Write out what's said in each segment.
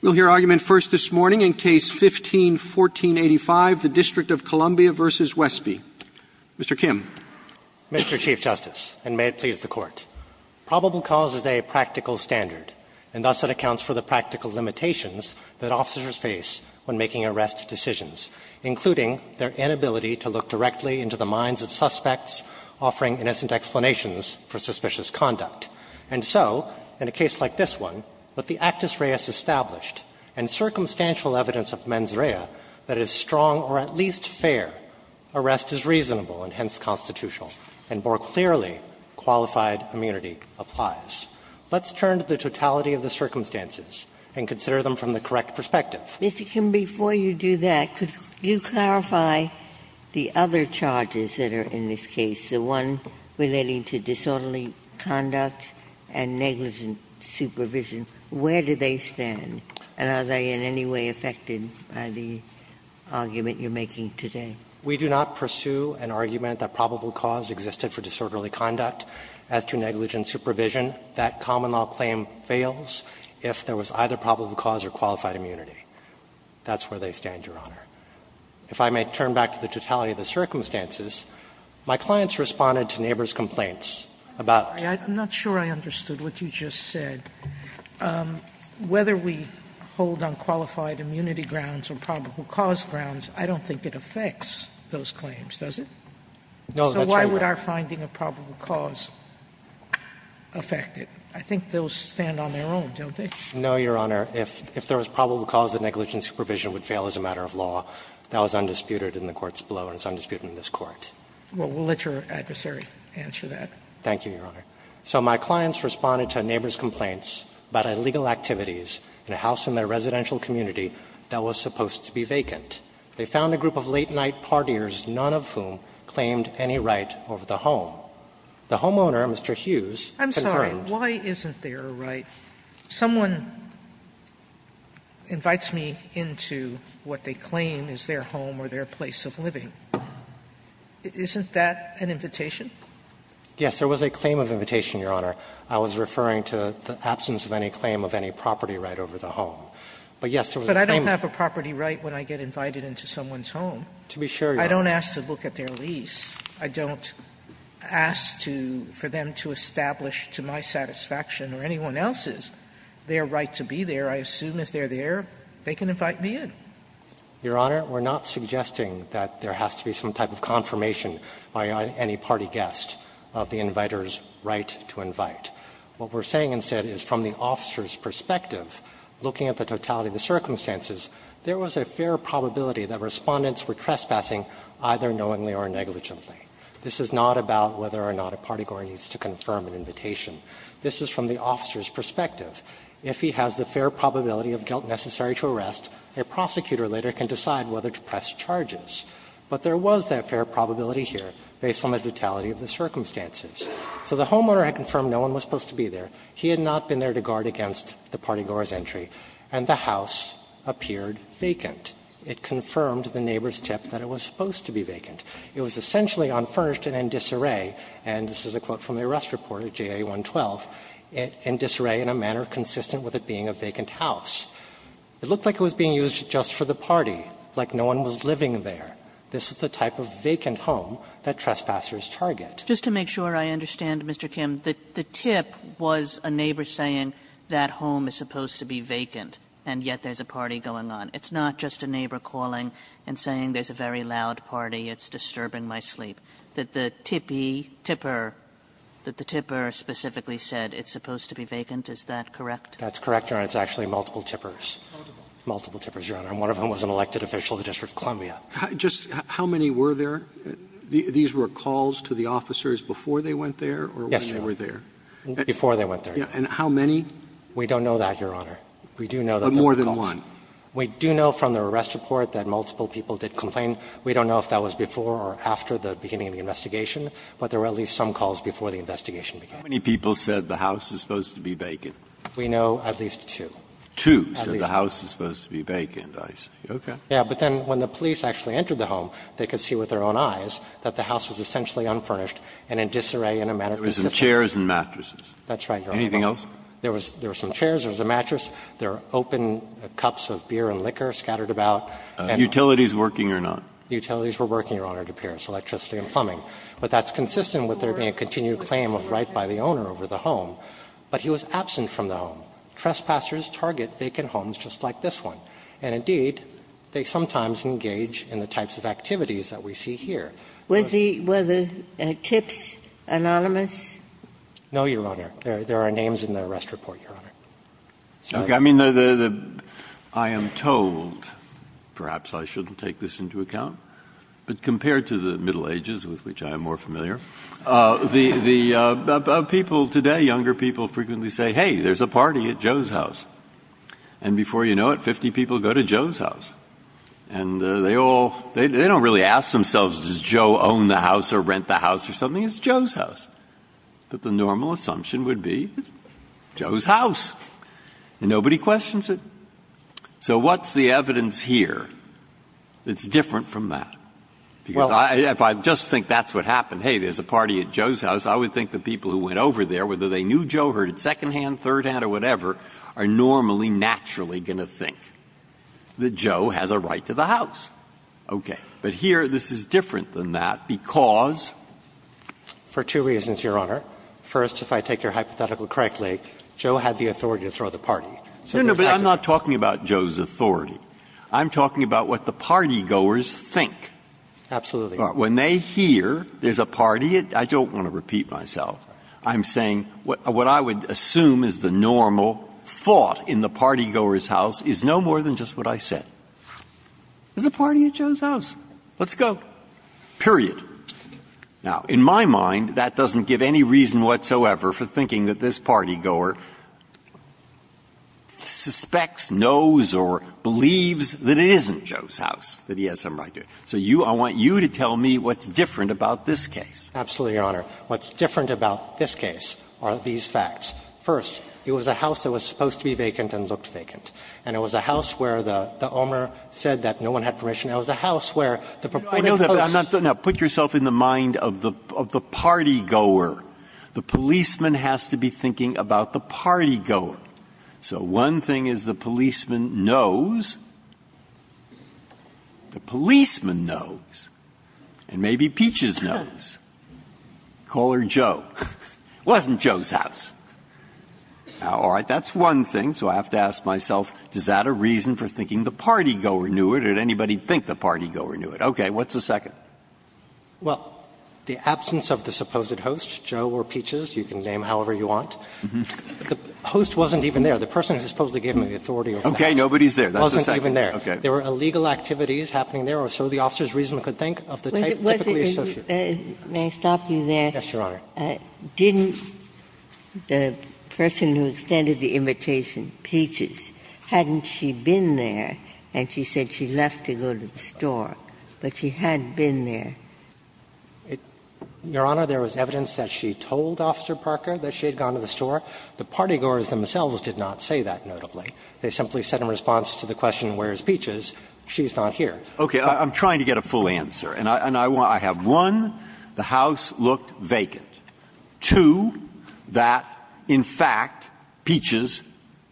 We'll hear argument first this morning in Case No. 15-1485, the District of Columbia v. Wesby. Mr. Kim. Mr. Chief Justice, and may it please the Court, probable cause is a practical standard, and thus it accounts for the practical limitations that officers face when making arrest decisions, including their inability to look directly into the minds of suspects, offering innocent explanations for suspicious conduct. And so, in a case like this one, with the actus reus established, and circumstantial evidence of mens rea that is strong or at least fair, arrest is reasonable and hence constitutional, and more clearly, qualified immunity applies. Let's turn to the totality of the circumstances and consider them from the correct perspective. Ginsburg. Mr. Kim, before you do that, could you clarify the other charges that are in this case, the one relating to disorderly conduct and negligent supervision? Where do they stand, and are they in any way affected by the argument you're making today? We do not pursue an argument that probable cause existed for disorderly conduct as to negligent supervision. That common law claim fails if there was either probable cause or qualified immunity. That's where they stand, Your Honor. If I may turn back to the totality of the circumstances, my clients responded to neighbors' complaints about the fact that there was a probable cause. Sotomayor, I'm not sure I understood what you just said. Whether we hold on qualified immunity grounds or probable cause grounds, I don't think it affects those claims, does it? No, that's right, Your Honor. So why would our finding of probable cause affect it? I think those stand on their own, don't they? No, Your Honor. If there was probable cause, the negligent supervision would fail as a matter of law. That was undisputed in the courts below, and it's undisputed in this Court. Well, we'll let your adversary answer that. Thank you, Your Honor. So my clients responded to neighbors' complaints about illegal activities in a house in their residential community that was supposed to be vacant. They found a group of late-night partiers, none of whom claimed any right over the home. The homeowner, Mr. Hughes, confirmed. I'm sorry. Why isn't there a right? Someone invites me into what they claim is their home or their place of living. Isn't that an invitation? Yes, there was a claim of invitation, Your Honor. I was referring to the absence of any claim of any property right over the home. But, yes, there was a claim of invitation. But I don't have a property right when I get invited into someone's home. To be sure, Your Honor. I don't ask to look at their lease. I don't ask to – for them to establish to my satisfaction or anyone else's their right to be there. I assume if they're there, they can invite me in. Your Honor, we're not suggesting that there has to be some type of confirmation by any party guest of the inviter's right to invite. What we're saying instead is from the officer's perspective, looking at the totality of the circumstances, there was a fair probability that Respondents were trespassing either knowingly or negligently. This is not about whether or not a party goer needs to confirm an invitation. This is from the officer's perspective. If he has the fair probability of guilt necessary to arrest, a prosecutor later can decide whether to press charges. But there was that fair probability here based on the totality of the circumstances. So the homeowner had confirmed no one was supposed to be there. He had not been there to guard against the party goer's entry. And the house appeared vacant. It confirmed the neighbor's tip that it was supposed to be vacant. It was essentially unfurnished and in disarray, and this is a quote from the Arrest Report of JA 112, in disarray in a manner consistent with it being a vacant house. It looked like it was being used just for the party, like no one was living there. This is the type of vacant home that trespassers target. Kagan, just to make sure I understand, Mr. Kim, the tip was a neighbor saying that home is supposed to be vacant, and yet there's a party going on. It's not just a neighbor calling and saying there's a very loud party, it's disturbing my sleep, that the tippy, tipper, that the tipper specifically said it's supposed to be vacant, is that correct? That's correct, Your Honor, it's actually multiple tippers. Multiple tippers, Your Honor, and one of them was an elected official of the District of Columbia. Just how many were there? These were calls to the officers before they went there or when they were there? Yes, Your Honor, before they went there. And how many? We don't know that, Your Honor. We do know that there were calls. But more than one? We do know from the arrest report that multiple people did complain. We don't know if that was before or after the beginning of the investigation, but there were at least some calls before the investigation began. How many people said the house is supposed to be vacant? We know at least two. Two said the house is supposed to be vacant, I see. Okay. Yes, but then when the police actually entered the home, they could see with their own eyes that the house was essentially unfurnished and in disarray in a manner consistent. There were some chairs and mattresses. That's right, Your Honor. Anything else? There were some chairs, there was a mattress. There are open cups of beer and liquor scattered about. Utilities working or not? Utilities were working, Your Honor, it appears, electricity and plumbing. But that's consistent with their continued claim of right by the owner over the home. But he was absent from the home. Trespassers target vacant homes just like this one. And indeed, they sometimes engage in the types of activities that we see here. Was the TIPS anonymous? No, Your Honor. There are names in the arrest report, Your Honor. Okay. I mean, I am told, perhaps I shouldn't take this into account, but compared to the Middle Ages, with which I am more familiar, the people today, younger people frequently say, hey, there's a party at Joe's house. And before you know it, 50 people go to Joe's house. And they all, they don't really ask themselves, does Joe own the house or rent the house or something? It's Joe's house. But the normal assumption would be Joe's house. And nobody questions it. So what's the evidence here that's different from that? Because if I just think that's what happened, hey, there's a party at Joe's house, I would think the people who went over there, whether they knew Joe, heard it secondhand, thirdhand or whatever, are normally, naturally going to think that Joe has a right to the house. Okay. But here, this is different than that because for two reasons. First, if I take your hypothetical correctly, Joe had the authority to throw the party. Breyer, but I'm not talking about Joe's authority. I'm talking about what the partygoers think. Absolutely. When they hear there's a party at, I don't want to repeat myself, I'm saying what I would assume is the normal thought in the partygoer's house is no more than just what I said. There's a party at Joe's house. Let's go. Period. Now, in my mind, that doesn't give any reason whatsoever for thinking that this partygoer suspects, knows or believes that it isn't Joe's house, that he has some right to it. So you, I want you to tell me what's different about this case. Absolutely, Your Honor. What's different about this case are these facts. First, it was a house that was supposed to be vacant and looked vacant. And it was a house where the owner said that no one had permission. It was a house where the purported hosts. Now, put yourself in the mind of the partygoer. The policeman has to be thinking about the partygoer. So one thing is the policeman knows, the policeman knows, and maybe Peaches knows. Call her Joe. It wasn't Joe's house. Now, all right, that's one thing. So I have to ask myself, is that a reason for thinking the partygoer knew it or did anybody think the partygoer knew it? Okay. What's the second? Well, the absence of the supposed host, Joe or Peaches, you can name however you want. The host wasn't even there. The person who supposedly gave me the authority over the house wasn't even there. There were illegal activities happening there, or so the officer's reason could think, of the type typically associated. May I stop you there? Yes, Your Honor. Didn't the person who extended the invitation, Peaches, hadn't she been there and she said she left to go to the store, but she had been there? Your Honor, there was evidence that she told Officer Parker that she had gone to the store. The partygoers themselves did not say that, notably. They simply said in response to the question, where's Peaches, she's not here. Okay. I'm trying to get a full answer, and I have, one, the house looked vacant. Two, that, in fact, Peaches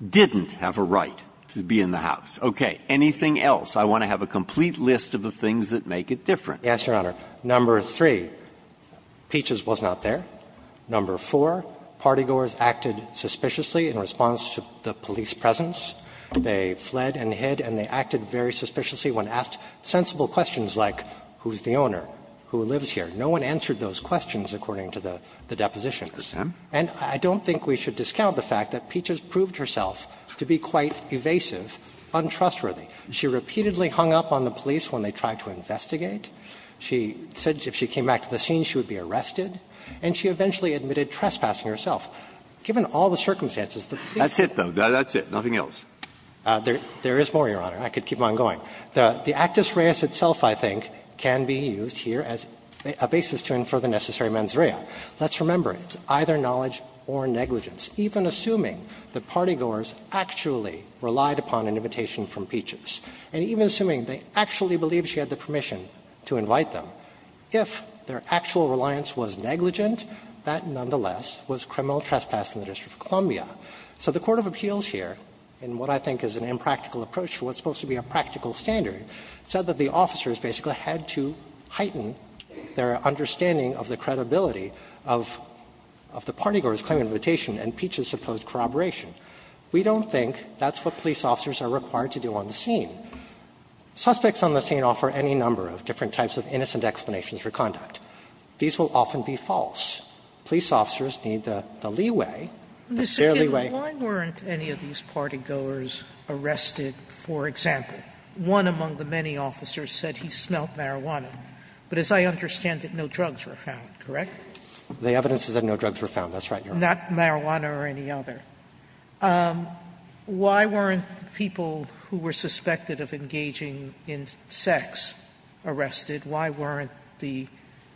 didn't have a right to be in the house. Okay. Anything else? I want to have a complete list of the things that make it different. Yes, Your Honor. Number three, Peaches was not there. Number four, partygoers acted suspiciously in response to the police presence. They fled and hid, and they acted very suspiciously when asked sensible questions like, who's the owner, who lives here? No one answered those questions, according to the depositions. Mr. Sam? And I don't think we should discount the fact that Peaches proved herself to be quite evasive, untrustworthy. She repeatedly hung up on the police when they tried to investigate. She said if she came back to the scene, she would be arrested. And she eventually admitted trespassing herself. Given all the circumstances, the police didn't do anything. That's it, though. That's it. Nothing else. There is more, Your Honor. I could keep on going. The actus reus itself, I think, can be used here as a basis to infer the necessary mens rea. Let's remember, it's either knowledge or negligence. Even assuming that partygoers actually relied upon an invitation from Peaches, and even assuming they actually believed she had the permission to invite them, if their actual reliance was negligent, that nonetheless was criminal trespass in the District of Columbia. So the court of appeals here, in what I think is an impractical approach for what's supposed to be a practical standard, said that the officers basically had to heighten their understanding of the credibility of the partygoers' claim of invitation and Peaches' supposed corroboration. We don't think that's what police officers are required to do on the scene. Suspects on the scene offer any number of different types of innocent explanations for conduct. These will often be false. Police officers need the leeway, the fair leeway. Sotomayor, why weren't any of these partygoers arrested, for example? One among the many officers said he smelled marijuana. But as I understand it, no drugs were found, correct? The evidence is that no drugs were found. That's right, Your Honor. Not marijuana or any other. Why weren't people who were suspected of engaging in sex arrested? Why weren't the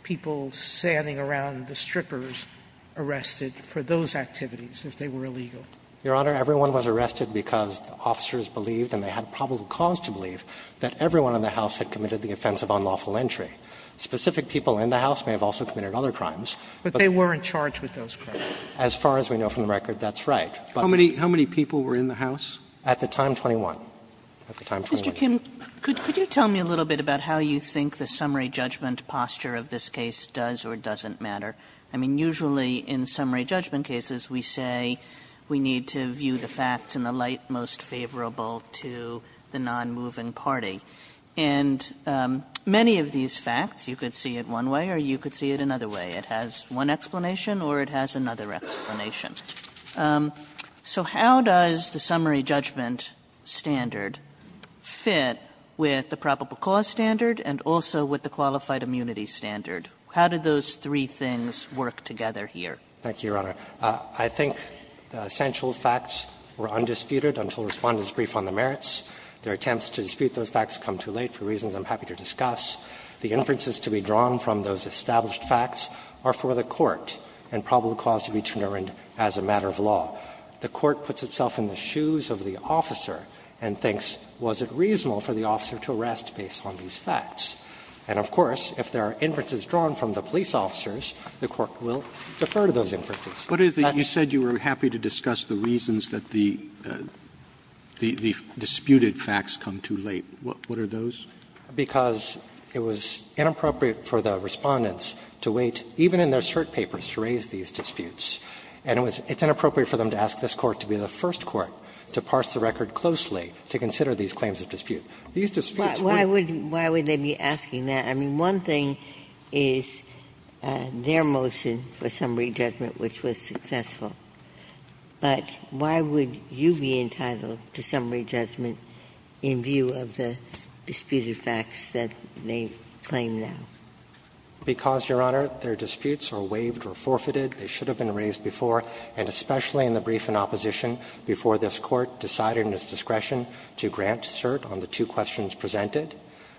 people standing around the strippers arrested for those activities if they were illegal? Your Honor, everyone was arrested because the officers believed, and they had probable cause to believe, that everyone in the house had committed the offense of unlawful entry. Specific people in the house may have also committed other crimes, but they weren't charged with those crimes. As far as we know from the record, that's right. But they were not charged with unlawful entry. How many people were in the house? At the time, 21. At the time, 21. Mr. Kim, could you tell me a little bit about how you think the summary judgment posture of this case does or doesn't matter? I mean, usually in summary judgment cases, we say we need to view the facts in the light most favorable to the nonmoving party. And many of these facts, you could see it one way or you could see it another way. It has one explanation or it has another explanation. So how does the summary judgment standard fit with the probable cause standard and also with the qualified immunity standard? How do those three things work together here? Thank you, Your Honor. I think the essential facts were undisputed until Respondent's brief on the merits. Their attempts to dispute those facts come too late for reasons I'm happy to discuss. The inferences to be drawn from those established facts are for the court and probable cause to be determined as a matter of law. The court puts itself in the shoes of the officer and thinks, was it reasonable for the officer to arrest based on these facts? And, of course, if there are inferences drawn from the police officers, the court will defer to those inferences. Roberts. Roberts. You said you were happy to discuss the reasons that the disputed facts come too late. What are those? Because it was inappropriate for the Respondents to wait, even in their cert papers, to raise these disputes. And it's inappropriate for them to ask this Court to be the first court to parse the record closely to consider these claims of dispute. These disputes were not. Why would they be asking that? I mean, one thing is their motion for summary judgment, which was successful. But why would you be entitled to summary judgment in view of the disputed facts that they claim now? Because, Your Honor, their disputes are waived or forfeited. They should have been raised before, and especially in the brief in opposition, before this Court decided in its discretion to grant cert on the two questions presented.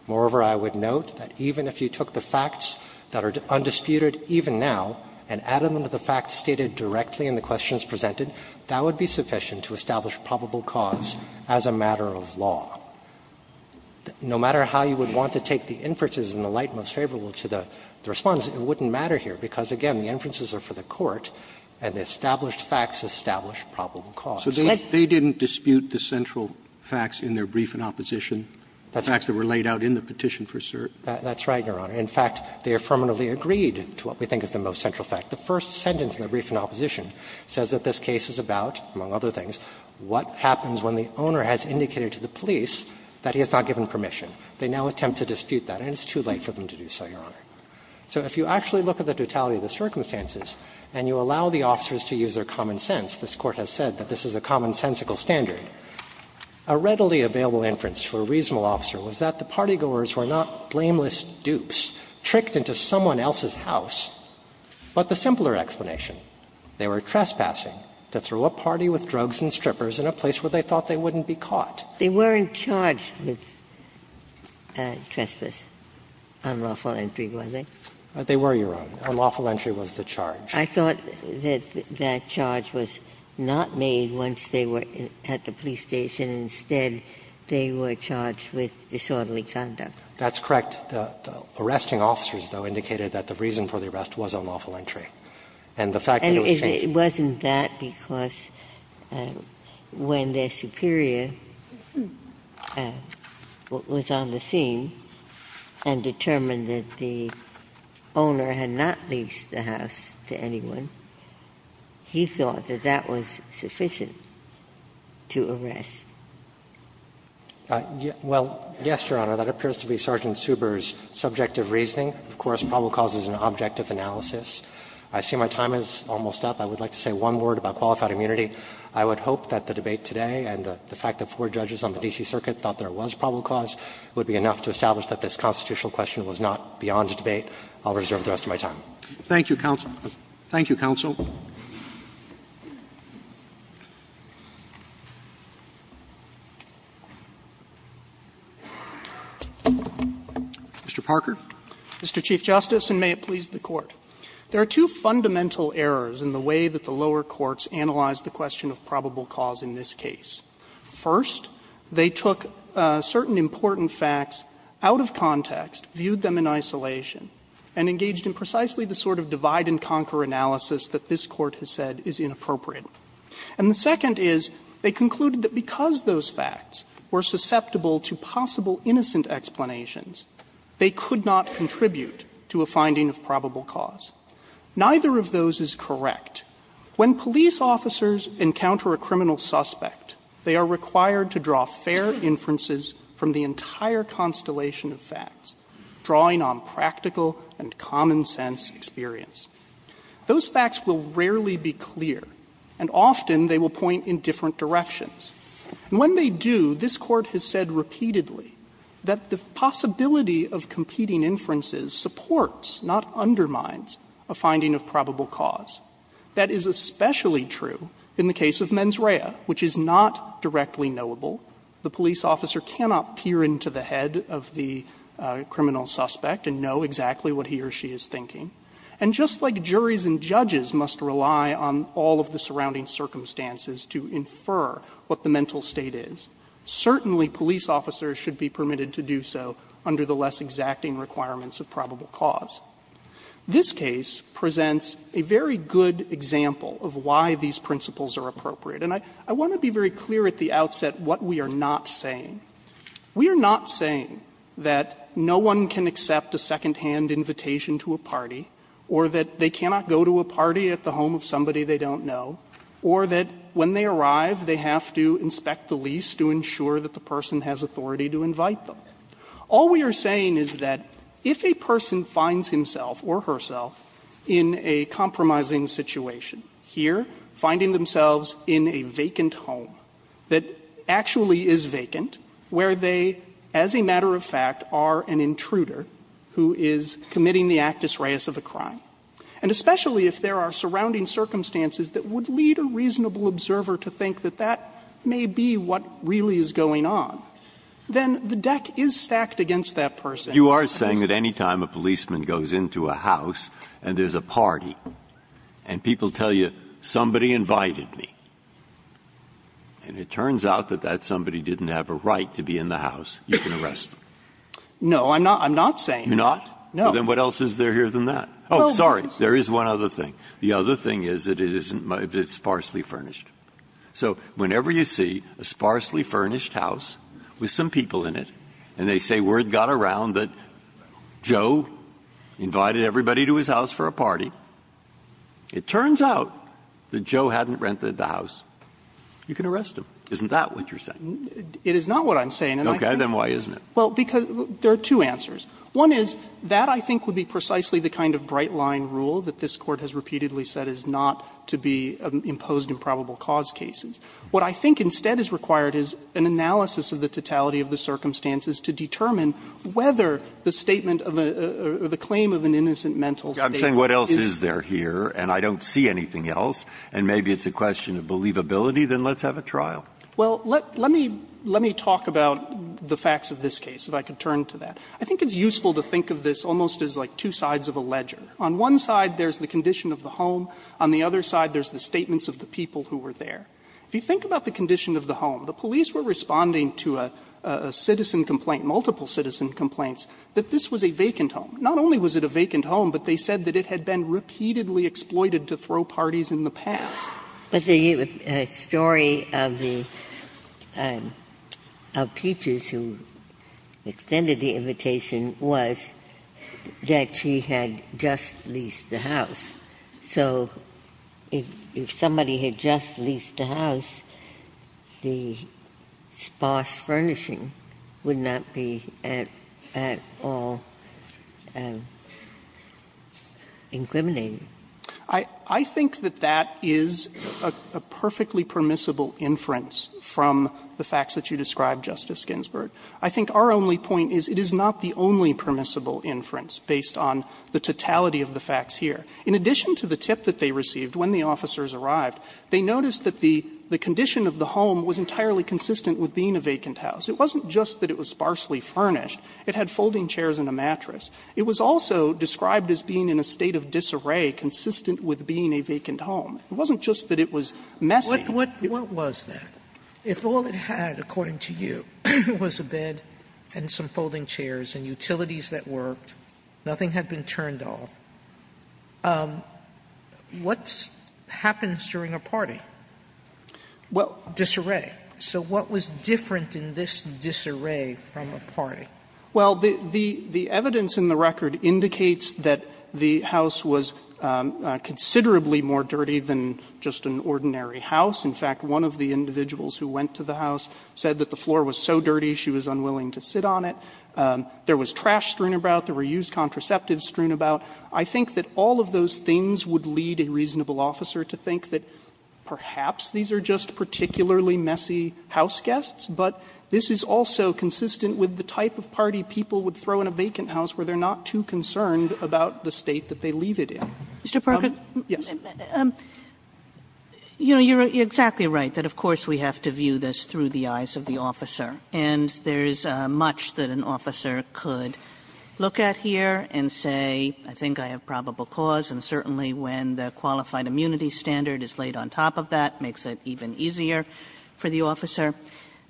Moreover, I would note that even if you took the facts that are undisputed even now and added them to the facts stated directly in the questions presented, that would be sufficient to establish probable cause as a matter of law. No matter how you would want to take the inferences in the light most favorable to the Respondents, it wouldn't matter here, because, again, the inferences are for the Court, and the established facts establish probable cause. Roberts, So they didn't dispute the central facts in their brief in opposition, the facts that were laid out in the petition for cert? That's right, Your Honor. In fact, they affirmatively agreed to what we think is the most central fact. The first sentence in the brief in opposition says that this case is about, among other things, what happens when the owner has indicated to the police that he has not given permission. They now attempt to dispute that, and it's too late for them to do so, Your Honor. So if you actually look at the totality of the circumstances and you allow the officers to use their common sense, this Court has said that this is a commonsensical standard, a readily available inference for a reasonable officer was that the party was dupes, tricked into someone else's house, but the simpler explanation, they were trespassing to throw a party with drugs and strippers in a place where they thought they wouldn't be caught. They weren't charged with trespass, unlawful entry, were they? They were, Your Honor. Unlawful entry was the charge. I thought that that charge was not made once they were at the police station. Instead, they were charged with disorderly conduct. That's correct. The arresting officers, though, indicated that the reason for the arrest was unlawful entry. And the fact that it was changed. And it wasn't that because when their superior was on the scene and determined that the owner had not leased the house to anyone, he thought that that was sufficient to arrest. Well, yes, Your Honor. That appears to be Sergeant Suber's subjective reasoning. Of course, probable cause is an objective analysis. I see my time is almost up. I would like to say one word about qualified immunity. I would hope that the debate today and the fact that four judges on the D.C. Circuit thought there was probable cause would be enough to establish that this constitutional question was not beyond debate. I'll reserve the rest of my time. Roberts. Thank you, counsel. Thank you, counsel. Mr. Parker. Mr. Chief Justice, and may it please the Court. There are two fundamental errors in the way that the lower courts analyzed the question of probable cause in this case. First, they took certain important facts out of context, viewed them in isolation, and engaged in precisely the sort of divide-and-conquer analysis that this Court has said is inappropriate. And the second is, they concluded that because those facts were susceptible to possible innocent explanations, they could not contribute to a finding of probable cause. Neither of those is correct. When police officers encounter a criminal suspect, they are required to draw fair inferences from the entire constellation of facts, drawing on practical and common sense experience. Those facts will rarely be clear, and often they will point in different directions. And when they do, this Court has said repeatedly that the possibility of competing inferences supports, not undermines, a finding of probable cause. That is especially true in the case of Menz Rhea, which is not directly knowable. The police officer cannot peer into the head of the criminal suspect and know exactly what he or she is thinking. And just like juries and judges must rely on all of the surrounding circumstances to infer what the mental state is, certainly police officers should be permitted to do so under the less exacting requirements of probable cause. This case presents a very good example of why these principles are appropriate. And I want to be very clear at the outset what we are not saying. We are not saying that no one can accept a secondhand invitation to a party, or that they cannot go to a party at the home of somebody they don't know, or that when they arrive, they have to inspect the lease to ensure that the person has authority to invite them. All we are saying is that if a person finds himself or herself in a compromising situation, here, finding themselves in a vacant home that actually is vacant, and where they, as a matter of fact, are an intruder who is committing the actus reus of a crime, and especially if there are surrounding circumstances that would lead a reasonable observer to think that that may be what really is going on, then the deck is stacked against that person. Breyer. You are saying that any time a policeman goes into a house and there's a party and people tell you, somebody invited me, and it turns out that that somebody didn't have a right to be in the house, you can arrest them? No, I'm not saying that. You're not? No. Then what else is there here than that? Oh, sorry. There is one other thing. The other thing is that it's sparsely furnished. So whenever you see a sparsely furnished house with some people in it, and they say word got around that Joe invited everybody to his house for a party, it turns out that Joe hadn't rented the house, you can arrest him. Isn't that what you're saying? It is not what I'm saying. Okay. Then why isn't it? Well, because there are two answers. One is, that I think would be precisely the kind of bright-line rule that this Court has repeatedly said is not to be imposed in probable cause cases. What I think instead is required is an analysis of the totality of the circumstances to determine whether the statement of a or the claim of an innocent mental statement is. I'm saying what else is there here, and I don't see anything else, and maybe it's a question of believability, then let's have a trial. Well, let me talk about the facts of this case, if I could turn to that. I think it's useful to think of this almost as like two sides of a ledger. On one side, there's the condition of the home. On the other side, there's the statements of the people who were there. If you think about the condition of the home, the police were responding to a citizen complaint, multiple citizen complaints, that this was a vacant home. Not only was it a vacant home, but they said that it had been repeatedly exploited to throw parties in the past. Ginsburg. But the story of the Peaches who extended the invitation was that she had just leased the house. So if somebody had just leased the house, the sparse furnishing would not be at all incriminating. I think that that is a perfectly permissible inference from the facts that you described, Justice Ginsburg. I think our only point is it is not the only permissible inference based on the totality of the facts here. In addition to the tip that they received when the officers arrived, they noticed that the condition of the home was entirely consistent with being a vacant house. It wasn't just that it was sparsely furnished. It had folding chairs and a mattress. It was also described as being in a state of disarray consistent with being a vacant It wasn't just that it was messy. Sotomayor, what was that? If all it had, according to you, was a bed and some folding chairs and utilities that worked, nothing had been turned off, what happens during a party? Disarray. So what was different in this disarray from a party? Well, the evidence in the record indicates that the house was considerably more dirty than just an ordinary house. In fact, one of the individuals who went to the house said that the floor was so dirty she was unwilling to sit on it. There was trash strewn about. There were used contraceptives strewn about. I think that all of those things would lead a reasonable officer to think that perhaps these are just particularly messy houseguests, but this is also consistent with the type of party people would throw in a vacant house where they're not too concerned about the state that they leave it in. Kagan. Yes. Kagan. You know, you're exactly right, that of course we have to view this through the eyes of the officer. And there is much that an officer could look at here and say, I think I have probable cause, and certainly when the qualified immunity standard is laid on top of that makes it even easier for the officer.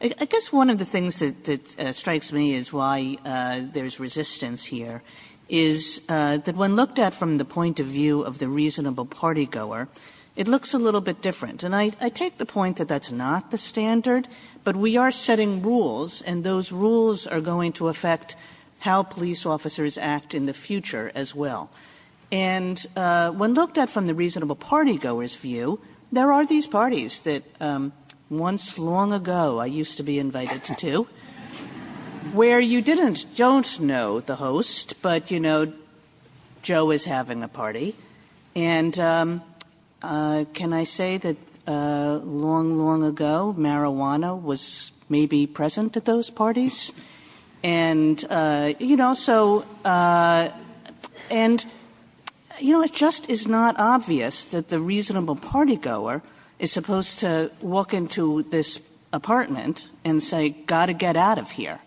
I guess one of the things that strikes me is why there is resistance here, is that when looked at from the point of view of the reasonable partygoer, it looks a little bit different. And I take the point that that's not the standard, but we are setting rules, and those rules are going to affect how police officers act in the future as well. And when looked at from the reasonable partygoer's view, there are these parties that once long ago I used to be invited to, where you didn't don't know the host, but you know Joe is having a party. And can I say that long, long ago marijuana was maybe present at those parties? And you know, so and you know, it just is not obvious that the reasonable partygoer is supposed to walk into this apartment and say, got to get out of here.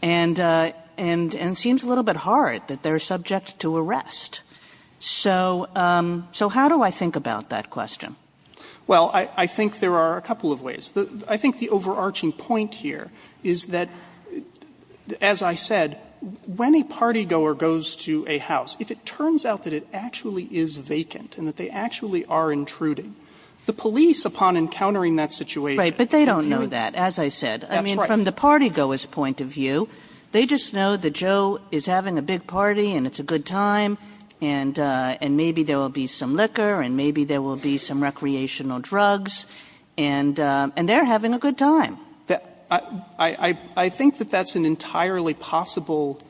And it seems a little bit hard that they are subject to arrest. So how do I think about that question? Well, I think there are a couple of ways. I think the overarching point here is that, as I said, when a partygoer goes to a house, if it turns out that it actually is vacant and that they actually are intruding, the police, upon encountering that situation. Right. But they don't know that, as I said. That's right. I mean, from the partygoer's point of view, they just know that Joe is having a big time, and maybe there will be some liquor, and maybe there will be some recreational drugs, and they're having a good time. I think that that's an entirely possible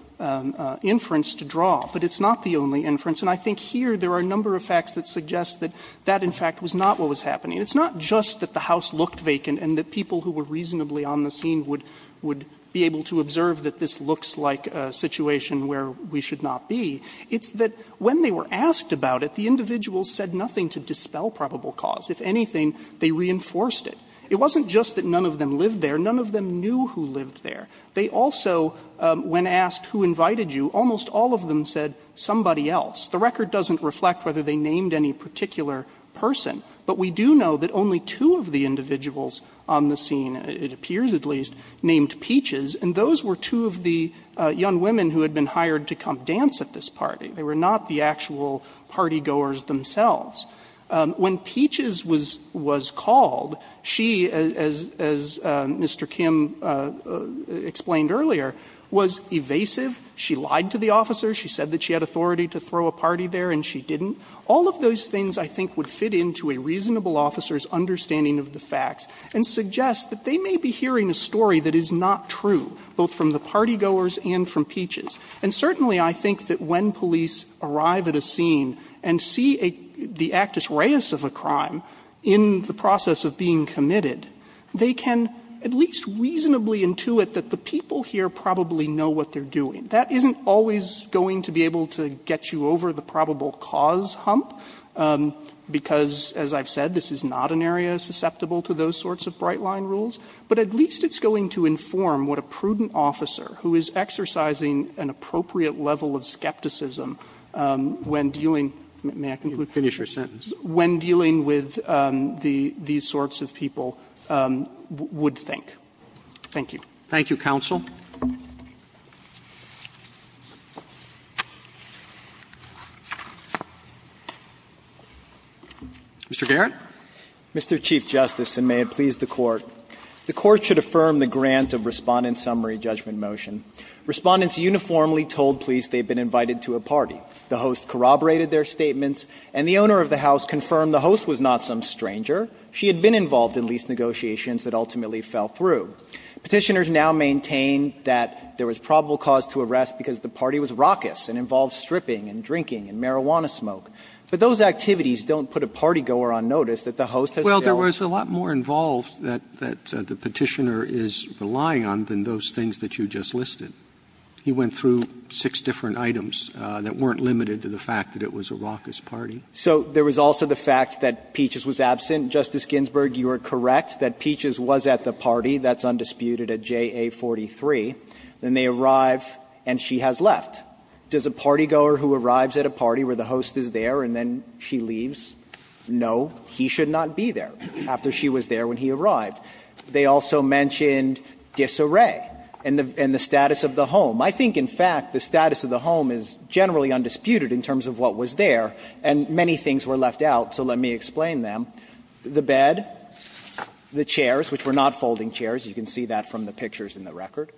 inference to draw, but it's not the only inference. And I think here there are a number of facts that suggest that that, in fact, was not what was happening. It's not just that the house looked vacant and that people who were reasonably on the scene would be able to observe that this looks like a situation where we should not be. It's that when they were asked about it, the individuals said nothing to dispel probable cause. If anything, they reinforced it. It wasn't just that none of them lived there. None of them knew who lived there. They also, when asked who invited you, almost all of them said somebody else. The record doesn't reflect whether they named any particular person, but we do know that only two of the individuals on the scene, it appears at least, named Peaches, and those were two of the young women who had been hired to come dance at this party. They were not the actual partygoers themselves. When Peaches was called, she, as Mr. Kim explained earlier, was evasive. She lied to the officers. She said that she had authority to throw a party there, and she didn't. All of those things, I think, would fit into a reasonable officer's understanding of the facts and suggest that they may be hearing a story that is not true, both from the partygoers and from Peaches. And certainly, I think that when police arrive at a scene and see the actus reius of a crime in the process of being committed, they can at least reasonably intuit that the people here probably know what they're doing. That isn't always going to be able to get you over the probable cause hump, because, as I've said, this is not an area susceptible to those sorts of bright-line rules, but at least it's going to inform what a prudent officer who is exercising an appropriate level of skepticism when dealing with these sorts of people would think. Thank you. Roberts Thank you, counsel. Mr. Garrett. Garrett, Mr. Chief Justice, and may it please the Court. The Court should affirm the grant of Respondent's summary judgment motion. Respondents uniformly told police they had been invited to a party. The host corroborated their statements, and the owner of the house confirmed the host was not some stranger. She had been involved in lease negotiations that ultimately fell through. Petitioners now maintain that there was probable cause to arrest because the party was raucous and involved stripping and drinking and marijuana smoke. But those activities don't put a partygoer on notice that the host has failed. Roberts Well, there was a lot more involved that the Petitioner is relying on than those things that you just listed. He went through six different items that weren't limited to the fact that it was a raucous party. Garrett So there was also the fact that Peaches was absent. Justice Ginsburg, you are correct that Peaches was at the party. That's undisputed at JA43. Then they arrive and she has left. Does a partygoer who arrives at a party where the host is there and then she leaves? No. He should not be there after she was there when he arrived. They also mentioned disarray and the status of the home. I think, in fact, the status of the home is generally undisputed in terms of what was there, and many things were left out, so let me explain them. The bed, the chairs, which were not folding chairs. You can see that from the pictures in the record.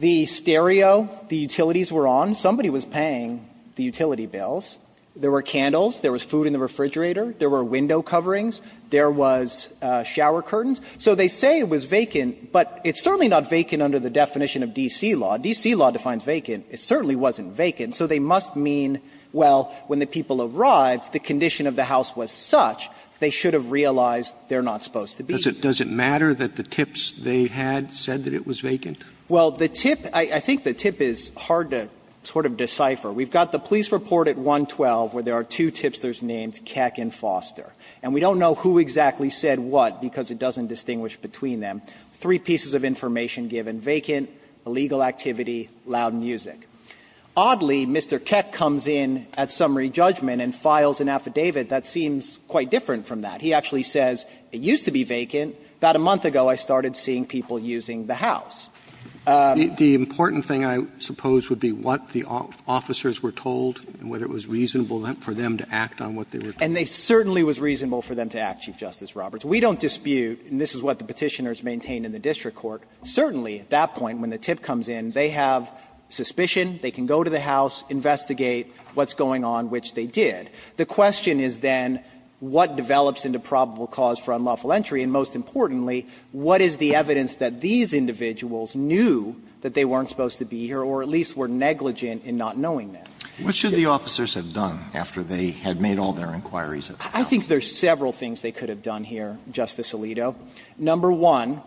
The stereo, the utilities were on. Somebody was paying the utility bills. There were candles. There was food in the refrigerator. There were window coverings. There was shower curtains. So they say it was vacant, but it's certainly not vacant under the definition of D.C. law. D.C. law defines vacant. It certainly wasn't vacant. So they must mean, well, when the people arrived, the condition of the house was such that they should have realized they're not supposed to be there. Roberts. Does it matter that the tips they had said that it was vacant? Well, the tip – I think the tip is hard to sort of decipher. We've got the police report at 112 where there are two tipsters named Keck and Foster, and we don't know who exactly said what because it doesn't distinguish between them. Three pieces of information given, vacant, illegal activity, loud music. Oddly, Mr. Keck comes in at summary judgment and files an affidavit that seems quite different from that. He actually says it used to be vacant. About a month ago, I started seeing people using the house. The important thing, I suppose, would be what the officers were told and whether it was reasonable for them to act on what they were told. And it certainly was reasonable for them to act, Chief Justice Roberts. We don't dispute, and this is what the Petitioners maintained in the district court, certainly at that point when the tip comes in, they have suspicion. They can go to the house, investigate what's going on, which they did. The question is then what develops into probable cause for unlawful entry, and most importantly, what is the evidence that these individuals knew that they weren't supposed to be here or at least were negligent in not knowing that? Alito, what should the officers have done after they had made all their inquiries at the house? I think there's several things they could have done here, Justice Alito. Number one,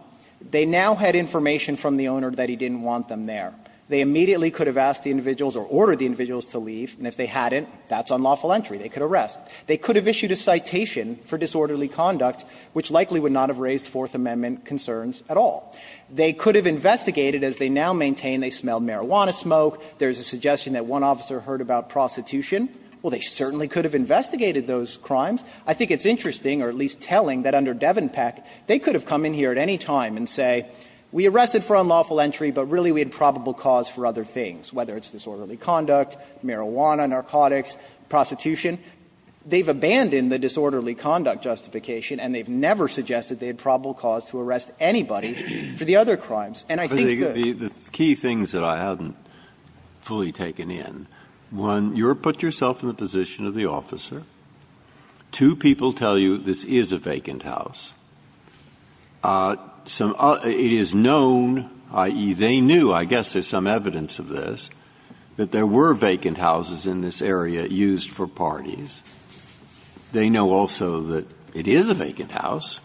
they now had information from the owner that he didn't want them there. They immediately could have asked the individuals or ordered the individuals to leave, and if they hadn't, that's unlawful entry. They could arrest. They could have issued a citation for disorderly conduct, which likely would not have raised Fourth Amendment concerns at all. They could have investigated, as they now maintain they smelled marijuana smoke. There's a suggestion that one officer heard about prostitution. Well, they certainly could have investigated those crimes. I think it's interesting, or at least telling, that under Devenpeck, they could have come in here at any time and say, we arrested for unlawful entry, but really we had probable cause for other things, whether it's disorderly conduct, marijuana, narcotics, prostitution. They've abandoned the disorderly conduct justification, and they've never suggested they had probable cause to arrest anybody for the other crimes. And I think the key things that I haven't fully taken in, one, you put yourself in the position of the officer. Two people tell you this is a vacant house. It is known, i.e., they knew, I guess there's some evidence of this, that there were vacant houses in this area used for parties. They know also that it is a vacant house,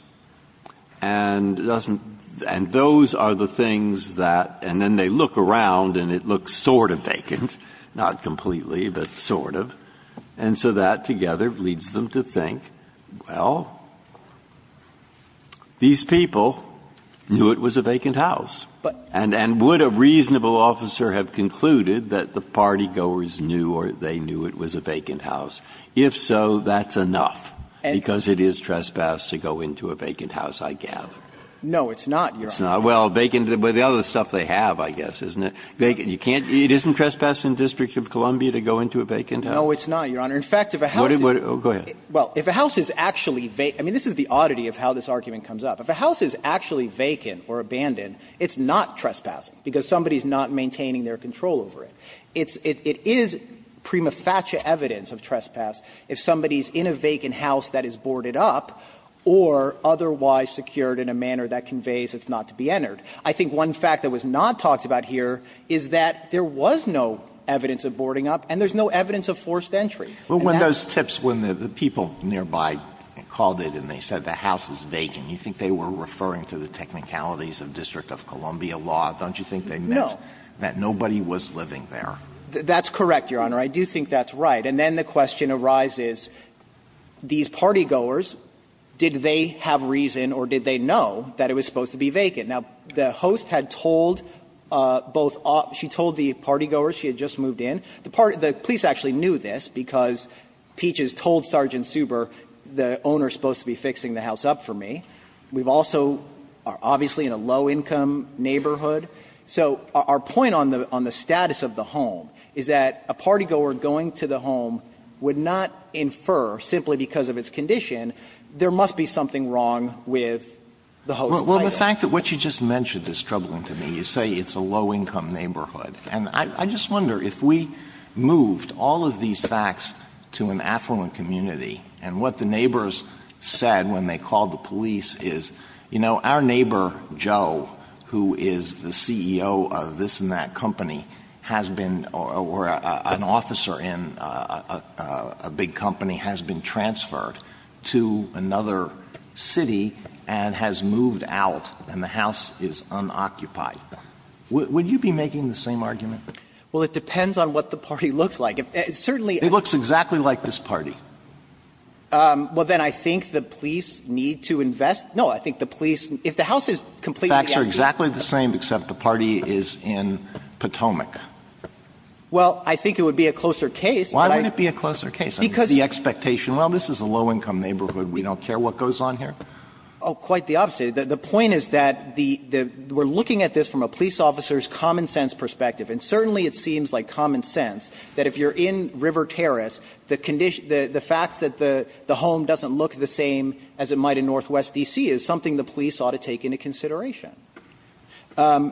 and it doesn't – and those are the things that – and then they look around and it looks sort of vacant, not completely, but sort of. And so that together leads them to think, well, these people knew it was a vacant house, and would a reasonable officer have concluded that the party goers knew or they knew it was a vacant house? If so, that's enough, because it is trespass to go into a vacant house, I gather. No, it's not, Your Honor. It's not. Well, vacant – but the other stuff they have, I guess, isn't it? You can't – it isn't trespass in the District of Columbia to go into a vacant house. No, it's not, Your Honor. In fact, if a house is – Go ahead. Well, if a house is actually – I mean, this is the oddity of how this argument comes up. If a house is actually vacant or abandoned, it's not trespassing, because somebody is not maintaining their control over it. It's – it is prima facie evidence of trespass if somebody is in a vacant house that is boarded up or otherwise secured in a manner that conveys it's not to be entered. I think one fact that was not talked about here is that there was no evidence of boarding up, and there's no evidence of forced entry. Sotomayor, you were referring to the technicalities of District of Columbia law, don't you think they meant that nobody was living there? That's correct, Your Honor. I do think that's right. And then the question arises, these partygoers, did they have reason or did they know that it was supposed to be vacant? Now, the host had told both – she told the partygoers she had just moved in. The police actually knew this, because Peaches told Sergeant Suber the owner is supposed to be fixing the house up for me. We've also – obviously in a low-income neighborhood. So our point on the status of the home is that a partygoer going to the home would not infer, simply because of its condition, there must be something wrong with the host's title. Well, the fact that what you just mentioned is troubling to me. You say it's a low-income neighborhood. And I just wonder, if we moved all of these facts to an affluent community, and what the neighbors said when they called the police is, you know, our neighbor Joe, who is the CEO of this and that company, has been – or an officer in a big company has been transferred to another city and has moved out, and the house is unoccupied, would you be making the same argument? Well, it depends on what the party looks like. It certainly – It looks exactly like this party. Well, then I think the police need to invest – no, I think the police – if the house is completely – The facts are exactly the same, except the party is in Potomac. Well, I think it would be a closer case, but I – Why wouldn't it be a closer case? Because the expectation – well, this is a low-income neighborhood. We don't care what goes on here? Oh, quite the opposite. The point is that the – we're looking at this from a police officer's common sense perspective. And certainly it seems like common sense that if you're in River Terrace, the condition – the fact that the home doesn't look the same as it might in Northwest D.C. is something the police ought to take into consideration. I – In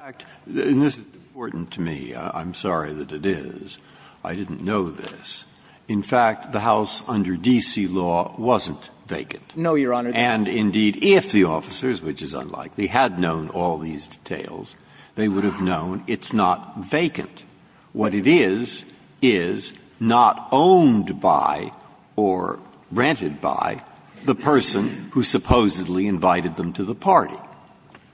fact, and this is important to me, I'm sorry that it is, I didn't know this. In fact, the house under D.C. law wasn't vacant. No, Your Honor. And indeed, if the officers, which is unlikely, had known all these details, they would have known it's not vacant. What it is, is not owned by or rented by the person who supposedly invited them to the party.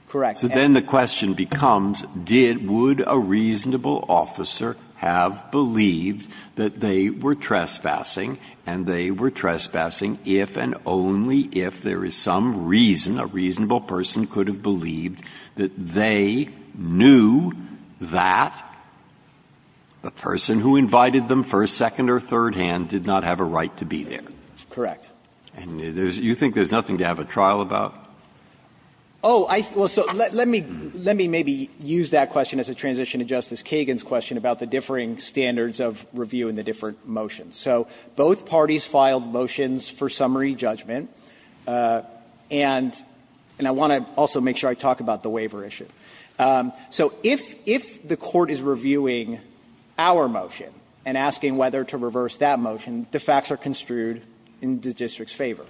Correct. So then the question becomes, did – would a reasonable officer have believed that they were trespassing, and they were trespassing if and only if there is some reason, a reasonable person could have believed that they knew that the person who invited them first, second or third hand did not have a right to be there? Correct. And there's – you think there's nothing to have a trial about? Oh, I – well, so let me – let me maybe use that question as a transition to Justice Kagan's question about the differing standards of review and the different motions. So both parties filed motions for summary judgment, and I want to also make sure I talk about the waiver issue. So if the court is reviewing our motion and asking whether to reverse that motion, the facts are construed in the district's favor.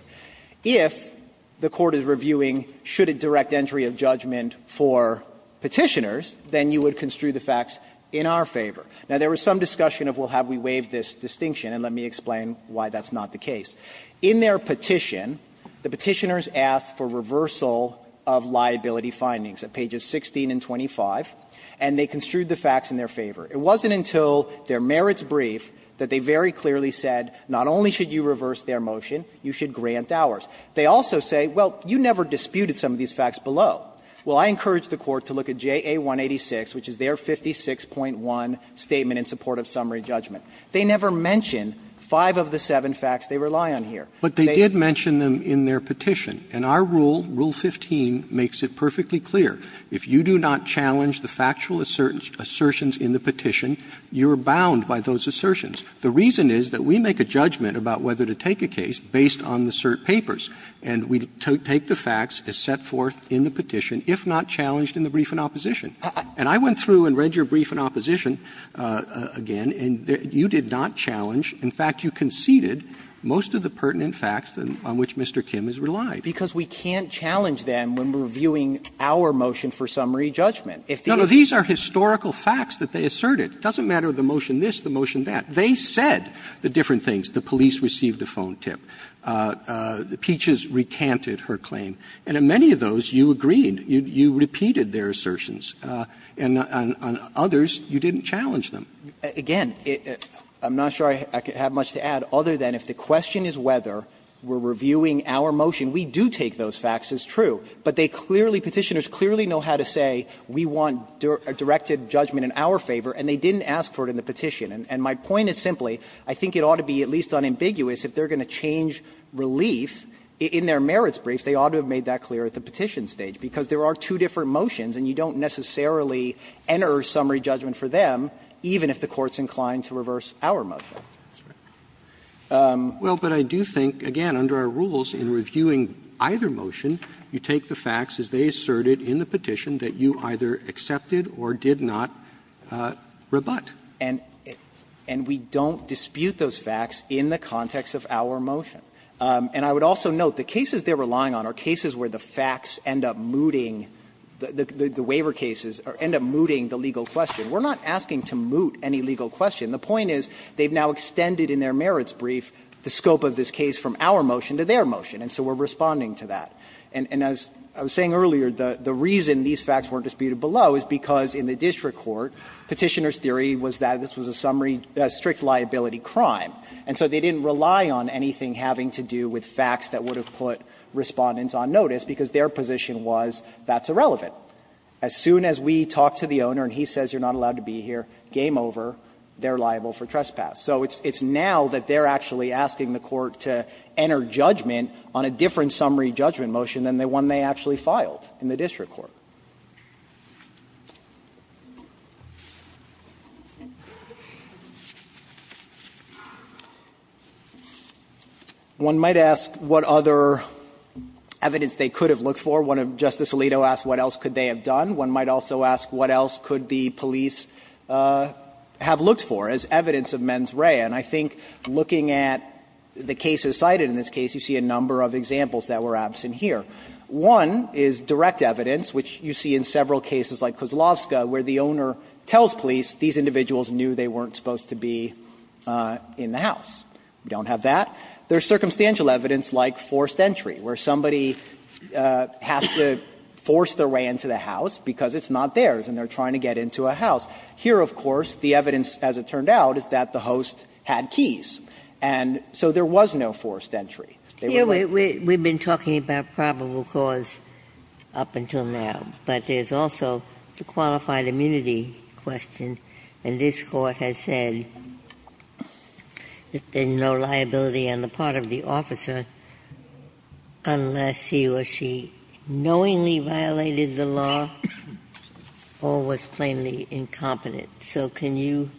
If the court is reviewing should it direct entry of judgment for Petitioners, then you would construe the facts in our favor. Now, there was some discussion of, well, have we waived this distinction, and let me explain why that's not the case. In their petition, the Petitioners asked for reversal of liability findings at pages 16 and 25, and they construed the facts in their favor. It wasn't until their merits brief that they very clearly said, not only should you reverse their motion, you should grant ours. They also say, well, you never disputed some of these facts below. Well, I encourage the Court to look at JA-186, which is their 56.1 statement in support of summary judgment. They never mention five of the seven facts they rely on here. Roberts But they did mention them in their petition, and our rule, Rule 15, makes it perfectly clear. If you do not challenge the factual assertions in the petition, you are bound by those assertions. The reason is that we make a judgment about whether to take a case based on the cert papers, and we take the facts as set forth in the petition, if not challenged in the brief in opposition. And I went through and read your brief in opposition again, and you did not challenge – in fact, you conceded most of the pertinent facts on which Mr. Kim has relied. Burschegger Because we can't challenge them when we're viewing our motion for summary judgment. Roberts No, no. These are historical facts that they asserted. It doesn't matter the motion this, the motion that. They said the different things. The police received a phone tip. Peaches recanted her claim. And in many of those, you agreed. You repeated their assertions. And on others, you didn't challenge them. Burschegger Again, I'm not sure I have much to add, other than if the question is whether we're reviewing our motion, we do take those facts as true. But they clearly, Petitioners clearly know how to say we want a directed judgment in our favor, and they didn't ask for it in the petition. And my point is simply, I think it ought to be at least unambiguous, if they're going to change relief in their merits brief, they ought to have made that clear at the petition stage, because there are two different motions and you don't necessarily enter summary judgment for them, even if the Court's inclined to reverse our motion. Roberts Well, but I do think, again, under our rules, in reviewing either motion, you take the facts as they asserted in the petition that you either accepted or did not rebut. And we don't dispute those facts in the context of our motion. And I would also note the cases they're relying on are cases where the facts end up mooting, the waiver cases end up mooting the legal question. We're not asking to moot any legal question. The point is they've now extended in their merits brief the scope of this case from our motion to their motion, and so we're responding to that. And as I was saying earlier, the reason these facts weren't disputed below is because in the district court, Petitioner's theory was that this was a summary, a strict liability crime. And so they didn't rely on anything having to do with facts that would have put Respondents on notice, because their position was that's irrelevant. As soon as we talk to the owner and he says you're not allowed to be here, game over, they're liable for trespass. So it's now that they're actually asking the Court to enter judgment on a different summary judgment motion than the one they actually filed in the district court. One might ask what other evidence they could have looked for. One of Justice Alito asked what else could they have done. One might also ask what else could the police have looked for as evidence of mens rea. And I think looking at the cases cited in this case, you see a number of examples that were absent here. One is direct evidence, which you see in several cases like Kozlowska, where the owner tells police these individuals knew they weren't supposed to be in the house. We don't have that. There's circumstantial evidence like forced entry, where somebody has to force their way into the house because it's not theirs and they're trying to get into a house. Here, of course, the evidence, as it turned out, is that the host had keys. And so there was no forced entry. They were not ---- Ginsburg. Here we've been talking about probable cause up until now. But there's also the qualified immunity question. And this Court has said that there's no liability on the part of the officer unless he or she knowingly violated the law or was plainly incompetent. So can you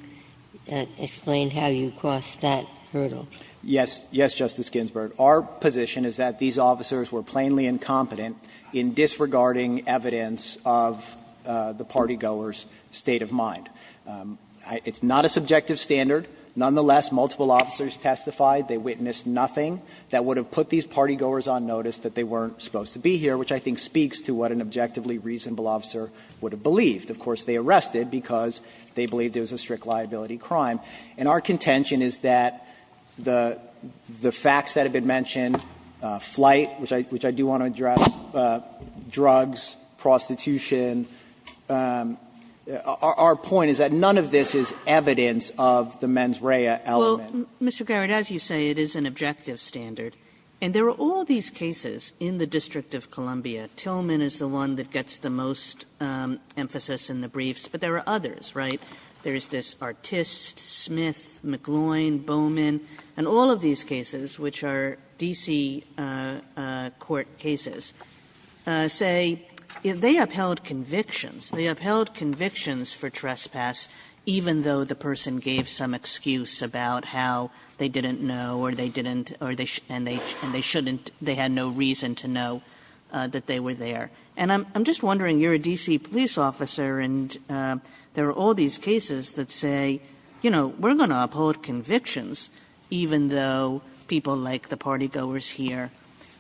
explain how you crossed that hurdle? Yes. Yes, Justice Ginsburg. Our position is that these officers were plainly incompetent in disregarding evidence of the partygoer's state of mind. It's not a subjective standard. Nonetheless, multiple officers testified. They witnessed nothing that would have put these partygoers on notice that they weren't supposed to be here, which I think speaks to what an objectively reasonable officer would have believed. Of course, they arrested because they believed it was a strict liability crime. And our contention is that the facts that have been mentioned, flight, which I do want to address, drugs, prostitution, our point is that none of this is evidence of the mens rea element. Well, Mr. Garrett, as you say, it is an objective standard. And there are all these cases in the District of Columbia. Tillman is the one that gets the most emphasis in the briefs, but there are others, right? There is this Artis, Smith, McGloin, Bowman, and all of these cases, which are D.C. court cases, say they upheld convictions. They upheld convictions for trespass even though the person gave some excuse about how they didn't know or they didn't or they shouldn't, they had no reason to know that they were there. And I'm just wondering, you're a D.C. police officer, and there are all these cases that say, you know, we're going to uphold convictions even though people like the party goers here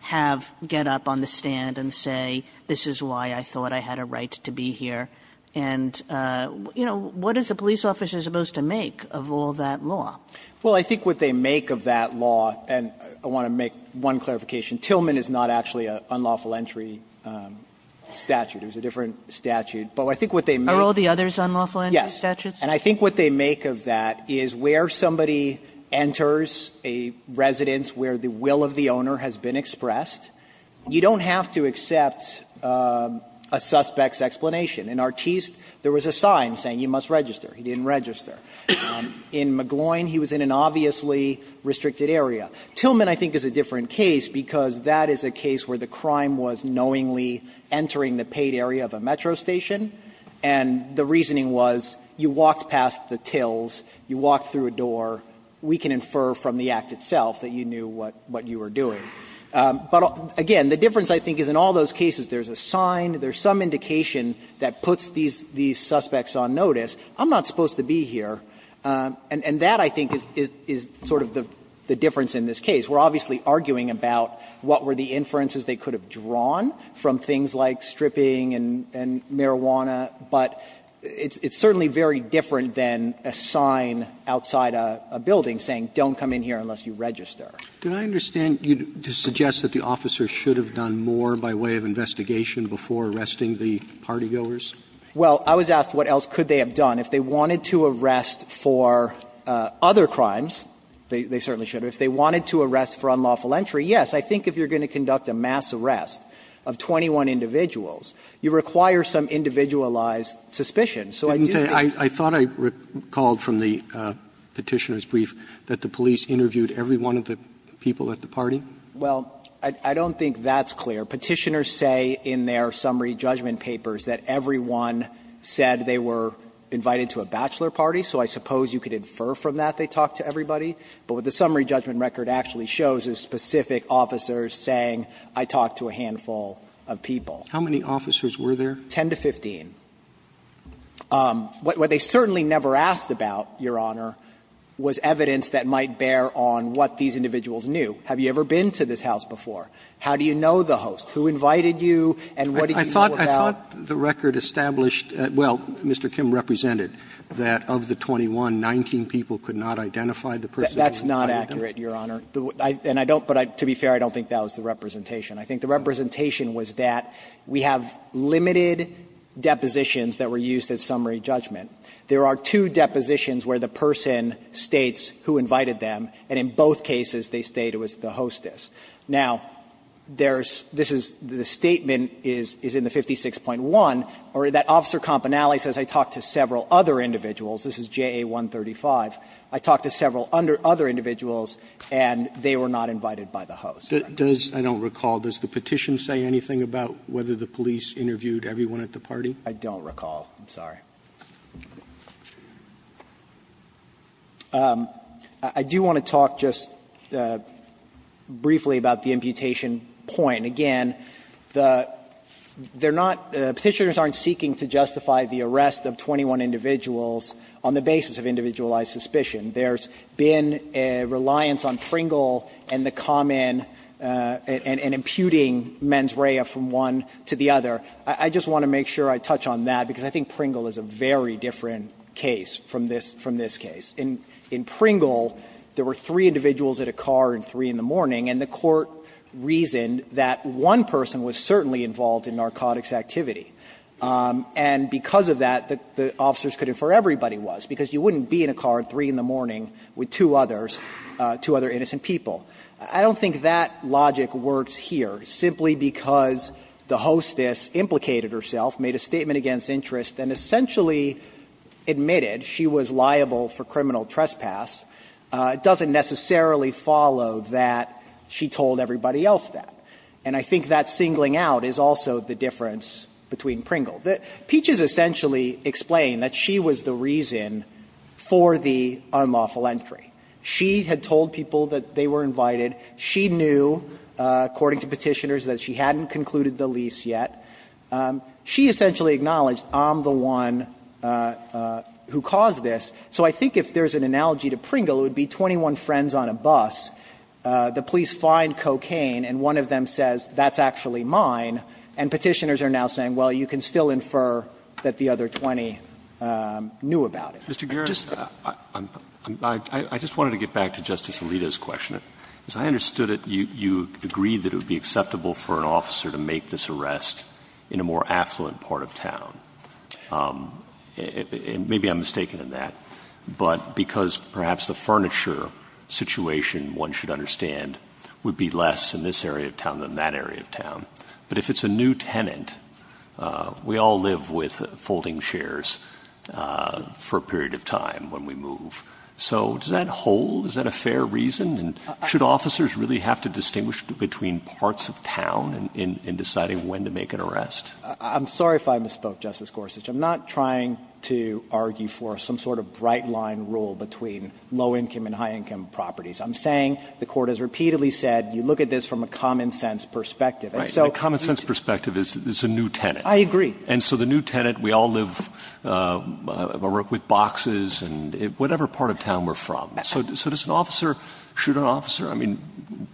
have to get up on the stand and say, this is why I thought I had a right to be here. And, you know, what is a police officer supposed to make of all that law? Well, I think what they make of that law, and I want to make one clarification, Tillman is not actually an unlawful entry statute. It was a different statute. But I think what they make of that is where somebody enters a residence where the will of the owner has been expressed, you don't have to accept a suspect's explanation. In Artis, there was a sign saying you must register. He didn't register. In McGloin, he was in an obviously restricted area. Tillman, I think, is a different case because that is a case where the crime was knowingly entering the paid area of a metro station, and the reasoning was you walked past the tills, you walked through a door, we can infer from the act itself that you knew what you were doing. But, again, the difference, I think, is in all those cases, there's a sign, there's some indication that puts these suspects on notice, I'm not supposed to be here. And that, I think, is sort of the difference in this case. We're obviously arguing about what were the inferences they could have drawn from things like stripping and marijuana, but it's certainly very different than a sign outside a building saying don't come in here unless you register. Roberts. Did I understand you to suggest that the officer should have done more by way of investigation before arresting the party-goers? Well, I was asked what else could they have done. If they wanted to arrest for other crimes, they certainly should have. If they wanted to arrest for unlawful entry, yes. I think if you're going to conduct a mass arrest of 21 individuals, you require some individualized suspicion. So I do think that's clear. I thought I recalled from the Petitioner's brief that the police interviewed every one of the people at the party. Well, I don't think that's clear. Petitioners say in their summary judgment papers that everyone said they were invited to a bachelor party, so I suppose you could infer from that they talked to everybody. But what the summary judgment record actually shows is specific officers saying I talked to a handful of people. How many officers were there? Ten to 15. What they certainly never asked about, Your Honor, was evidence that might bear on what these individuals knew. Have you ever been to this house before? How do you know the host? Who invited you and what did you know about? I thought the record established, well, Mr. Kim represented, that of the 21, 19 people could not identify the person who invited them. That's not accurate, Your Honor. And I don't, but to be fair, I don't think that was the representation. I think the representation was that we have limited depositions that were used as summary judgment. There are two depositions where the person states who invited them, and in both cases they state it was the hostess. Now, there's this is the statement is in the 56.1, or that Officer Campanelli says I talked to several other individuals. This is JA 135. I talked to several other individuals and they were not invited by the host. Roberts. Roberts. I don't recall. Does the petition say anything about whether the police interviewed everyone at the party? I don't recall. I'm sorry. I do want to talk just briefly about the imputation point. Again, the they're not Petitioners aren't seeking to justify the arrest of 21 individuals on the basis of individualized suspicion. There's been a reliance on Pringle and the common and imputing mens rea from one to the other. I just want to make sure I touch on that, because I think Pringle is a very different case from this case. In Pringle, there were three individuals at a car at 3 in the morning, and the court reasoned that one person was certainly involved in narcotics activity. And because of that, the officers could infer everybody was, because you wouldn't be in a car at 3 in the morning with two others, two other innocent people. I don't think that logic works here, simply because the hostess implicated herself, made a statement against interest, and essentially admitted she was liable for criminal trespass. It doesn't necessarily follow that she told everybody else that. And I think that singling out is also the difference between Pringle. Peaches essentially explained that she was the reason for the unlawful entry. She had told people that they were invited. She knew, according to Petitioners, that she hadn't concluded the lease yet. She essentially acknowledged, I'm the one who caused this. So I think if there's an analogy to Pringle, it would be 21 friends on a bus, the police find cocaine, and one of them says, that's actually mine, and Petitioners are now saying, well, you can still infer that the other 20 knew about it. Mr. Garrett, I just wanted to get back to Justice Alito's question. I understood that you agreed that it would be acceptable for an officer to make this arrest in a more affluent part of town. Maybe I'm mistaken in that, but because perhaps the furniture situation, one should understand, would be less in this area of town than that area of town, but if it's a new tenant, we all live with folding chairs for a period of time when we move. So does that hold? Is that a fair reason? And should officers really have to distinguish between parts of town in deciding when to make an arrest? I'm sorry if I misspoke, Justice Gorsuch. I'm not trying to argue for some sort of bright-line rule between low-income and high-income properties. I'm saying the Court has repeatedly said, you look at this from a common-sense perspective. And so the new tenant, we all live with boxes, whatever part of town we're from. So does an officer shoot an officer? I mean,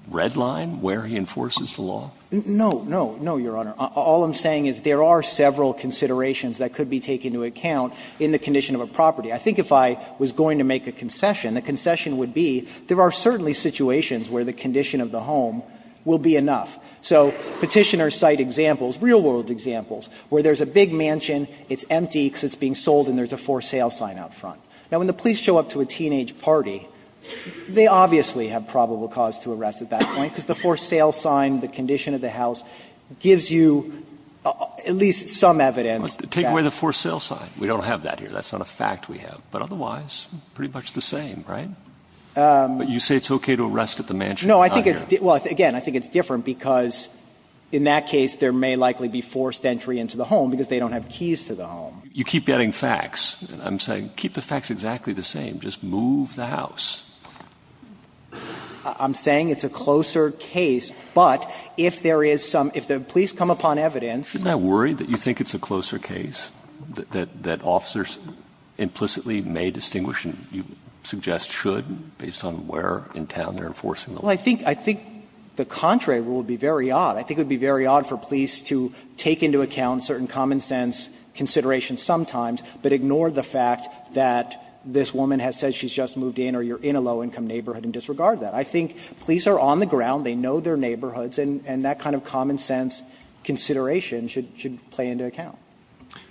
red line where he enforces the law? No, no, no, Your Honor. All I'm saying is there are several considerations that could be taken into account in the condition of a property. I think if I was going to make a concession, the concession would be there are certainly situations where the condition of the home will be enough. So Petitioner's cite examples, real-world examples, where there's a big mansion, it's empty because it's being sold, and there's a forced sale sign out front. Now, when the police show up to a teenage party, they obviously have probable cause to arrest at that point, because the forced sale sign, the condition of the house, gives you at least some evidence that. But take away the forced sale sign. We don't have that here. That's not a fact we have. But otherwise, pretty much the same, right? But you say it's okay to arrest at the mansion. No, I think it's – well, again, I think it's different, because in that case, there may likely be forced entry into the home, because they don't have keys to the home. You keep getting facts, and I'm saying keep the facts exactly the same. Just move the house. I'm saying it's a closer case, but if there is some – if the police come upon evidence – Shouldn't I worry that you think it's a closer case, that officers implicitly may distinguish, and you suggest should, based on where in town they're enforcing the law? Well, I think – I think the contrary rule would be very odd. I think it would be very odd for police to take into account certain common-sense considerations sometimes, but ignore the fact that this woman has said she's just moved in or you're in a low-income neighborhood and disregard that. I think police are on the ground, they know their neighborhoods, and that kind of common-sense consideration should – should play into account.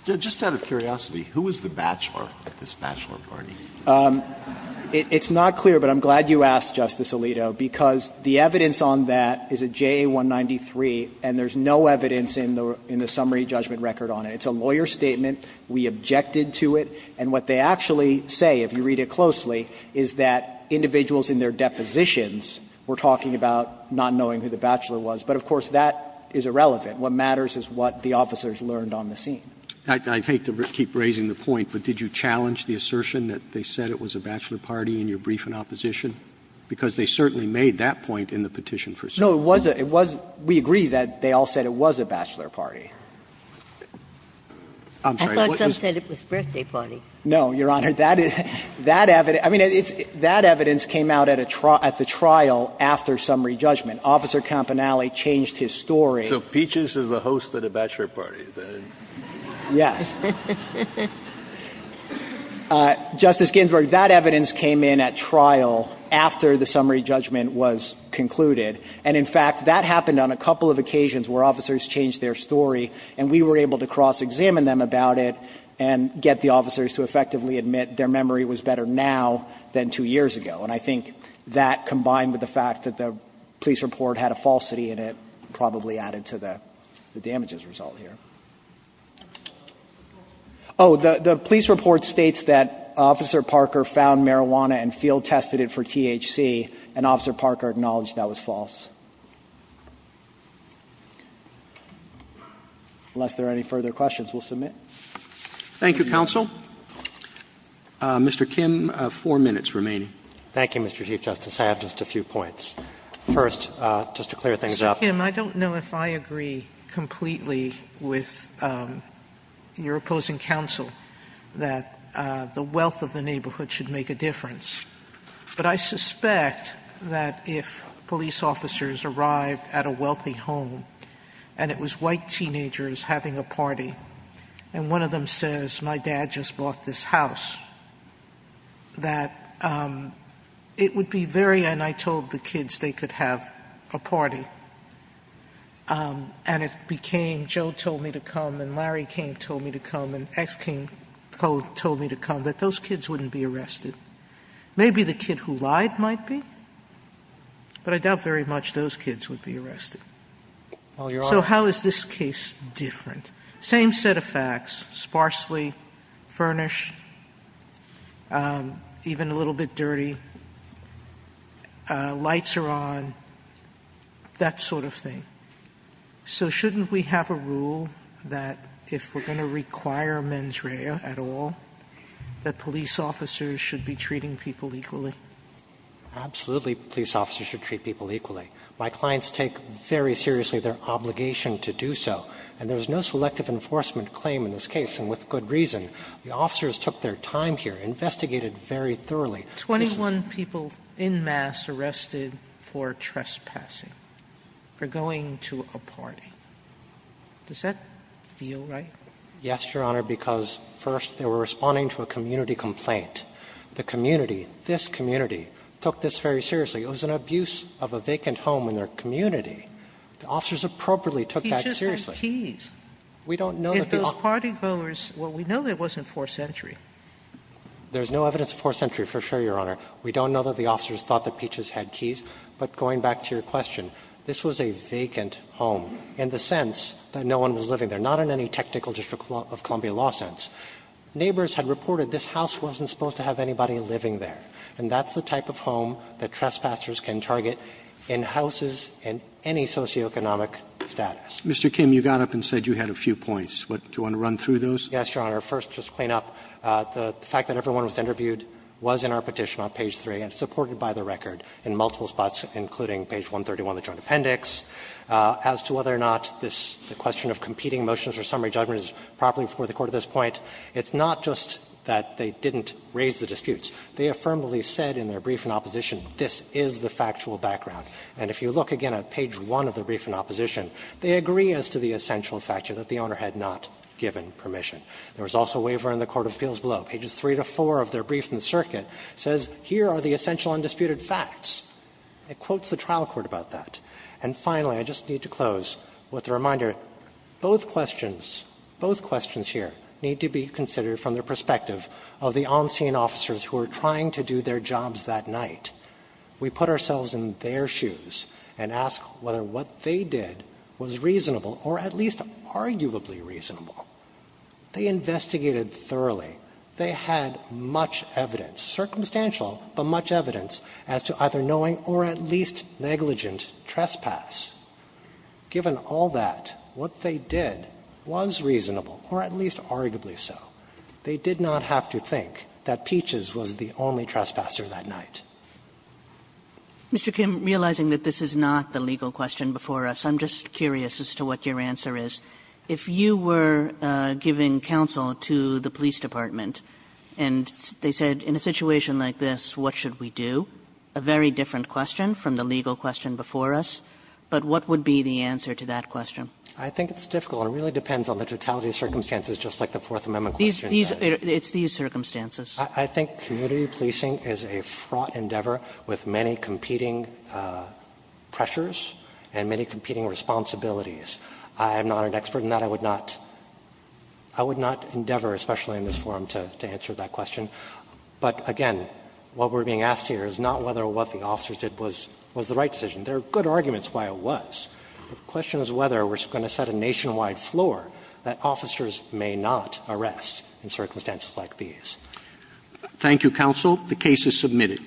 Just out of curiosity, who is the bachelor at this bachelor party? It's not clear, but I'm glad you asked, Justice Alito, because the evidence on that is a JA-193, and there's no evidence in the summary judgment record on it. It's a lawyer's statement, we objected to it, and what they actually say, if you read it closely, is that individuals in their depositions were talking about not knowing who the bachelor was, but of course, that is irrelevant. What matters is what the officers learned on the scene. Roberts I hate to keep raising the point, but did you challenge the assertion that they said it was a bachelor party in your brief in opposition? Because they certainly made that point in the petition for summary judgment. Verrilli, No, it wasn't. We agree that they all said it was a bachelor party. I'm sorry. Ginsburg I thought some said it was birthday party. Verrilli, No, Your Honor. That is – that evidence – I mean, that evidence came out at a trial – at the trial after summary judgment. Officer Campanelli changed his story. Kennedy So Peaches is the host of the bachelor party, is that it? Verrilli, Yes. Justice Ginsburg, that evidence came in at trial after the summary judgment was concluded, and in fact, that happened on a couple of occasions where officers changed their story, and we were able to cross-examine them about it and get the officers to effectively admit their memory was better now than two years ago. And I think that, combined with the fact that the police report had a falsity in it, probably added to the damages result here. Oh, the police report states that Officer Parker found marijuana and field-tested it for THC, and Officer Parker acknowledged that was false. Unless there are any further questions, we'll submit. Roberts. Thank you, counsel. Mr. Kim, four minutes remaining. I agree with your opposing counsel that the wealth of the neighborhood should make a difference, but I suspect that if police officers arrived at a wealthy home and it was white teenagers having a party, and one of them says, my dad just bought this house, that it would be very – and I told the kids they could have a party, and it I mean, if I said, my dad told me to come and Larry King told me to come and X King told me to come, that those kids wouldn't be arrested, maybe the kid who lied might be, but I doubt very much those kids would be arrested. So how is this case different? Same set of facts. Sparsely furnished, even a little bit dirty, lights are on, that sort of thing. So shouldn't we have a rule that if we're going to require mens rea at all, that police officers should be treating people equally? Absolutely, police officers should treat people equally. My clients take very seriously their obligation to do so, and there's no selective enforcement claim in this case, and with good reason. The officers took their time here, investigated very thoroughly. Twenty-one people in mass arrested for trespassing, for going to a party. Does that feel right? Yes, Your Honor, because first they were responding to a community complaint. The community, this community, took this very seriously. It was an abuse of a vacant home in their community. The officers appropriately took that seriously. He just had keys. We don't know that the – If those partygoers – well, we know there wasn't forced entry. There's no evidence of forced entry, for sure, Your Honor. We don't know that the officers thought that Peaches had keys. But going back to your question, this was a vacant home in the sense that no one was living there, not in any technical district of Columbia law sense. Neighbors had reported this house wasn't supposed to have anybody living there, and that's the type of home that trespassers can target in houses in any socioeconomic status. Mr. Kim, you got up and said you had a few points. Do you want to run through those? Yes, Your Honor. First, just to clean up, the fact that everyone was interviewed was in our petition on page 3 and supported by the record in multiple spots, including page 131 of the Joint Appendix. As to whether or not this – the question of competing motions or summary judgments is properly before the Court at this point, it's not just that they didn't raise the disputes. They affirmably said in their brief in opposition, this is the factual background. And if you look again at page 1 of the brief in opposition, they agree as to the essential factor that the owner had not given permission. There was also a waiver in the Court of Appeals below. Pages 3 to 4 of their brief in the circuit says, here are the essential undisputed facts. It quotes the trial court about that. And finally, I just need to close with a reminder, both questions, both questions here need to be considered from the perspective of the on-scene officers who are trying to do their jobs that night. We put ourselves in their shoes and ask whether what they did was reasonable or at least arguably reasonable. They investigated thoroughly. They had much evidence, circumstantial, but much evidence as to either knowing or at least negligent trespass. Given all that, what they did was reasonable or at least arguably so. They did not have to think that Peaches was the only trespasser that night. Kagan. Kagan. And realizing that this is not the legal question before us, I'm just curious as to what your answer is. If you were giving counsel to the police department and they said in a situation like this, what should we do, a very different question from the legal question before us, but what would be the answer to that question? I think it's difficult. It really depends on the totality of circumstances, just like the Fourth Amendment question does. It's these circumstances. I think community policing is a fraught endeavor with many competing pressures and many competing responsibilities. I am not an expert in that. I would not endeavor, especially in this forum, to answer that question. But again, what we're being asked here is not whether what the officers did was the right decision. There are good arguments why it was. The question is whether we're going to set a nationwide floor that officers may not arrest in circumstances like these. Thank you, counsel. The case is submitted.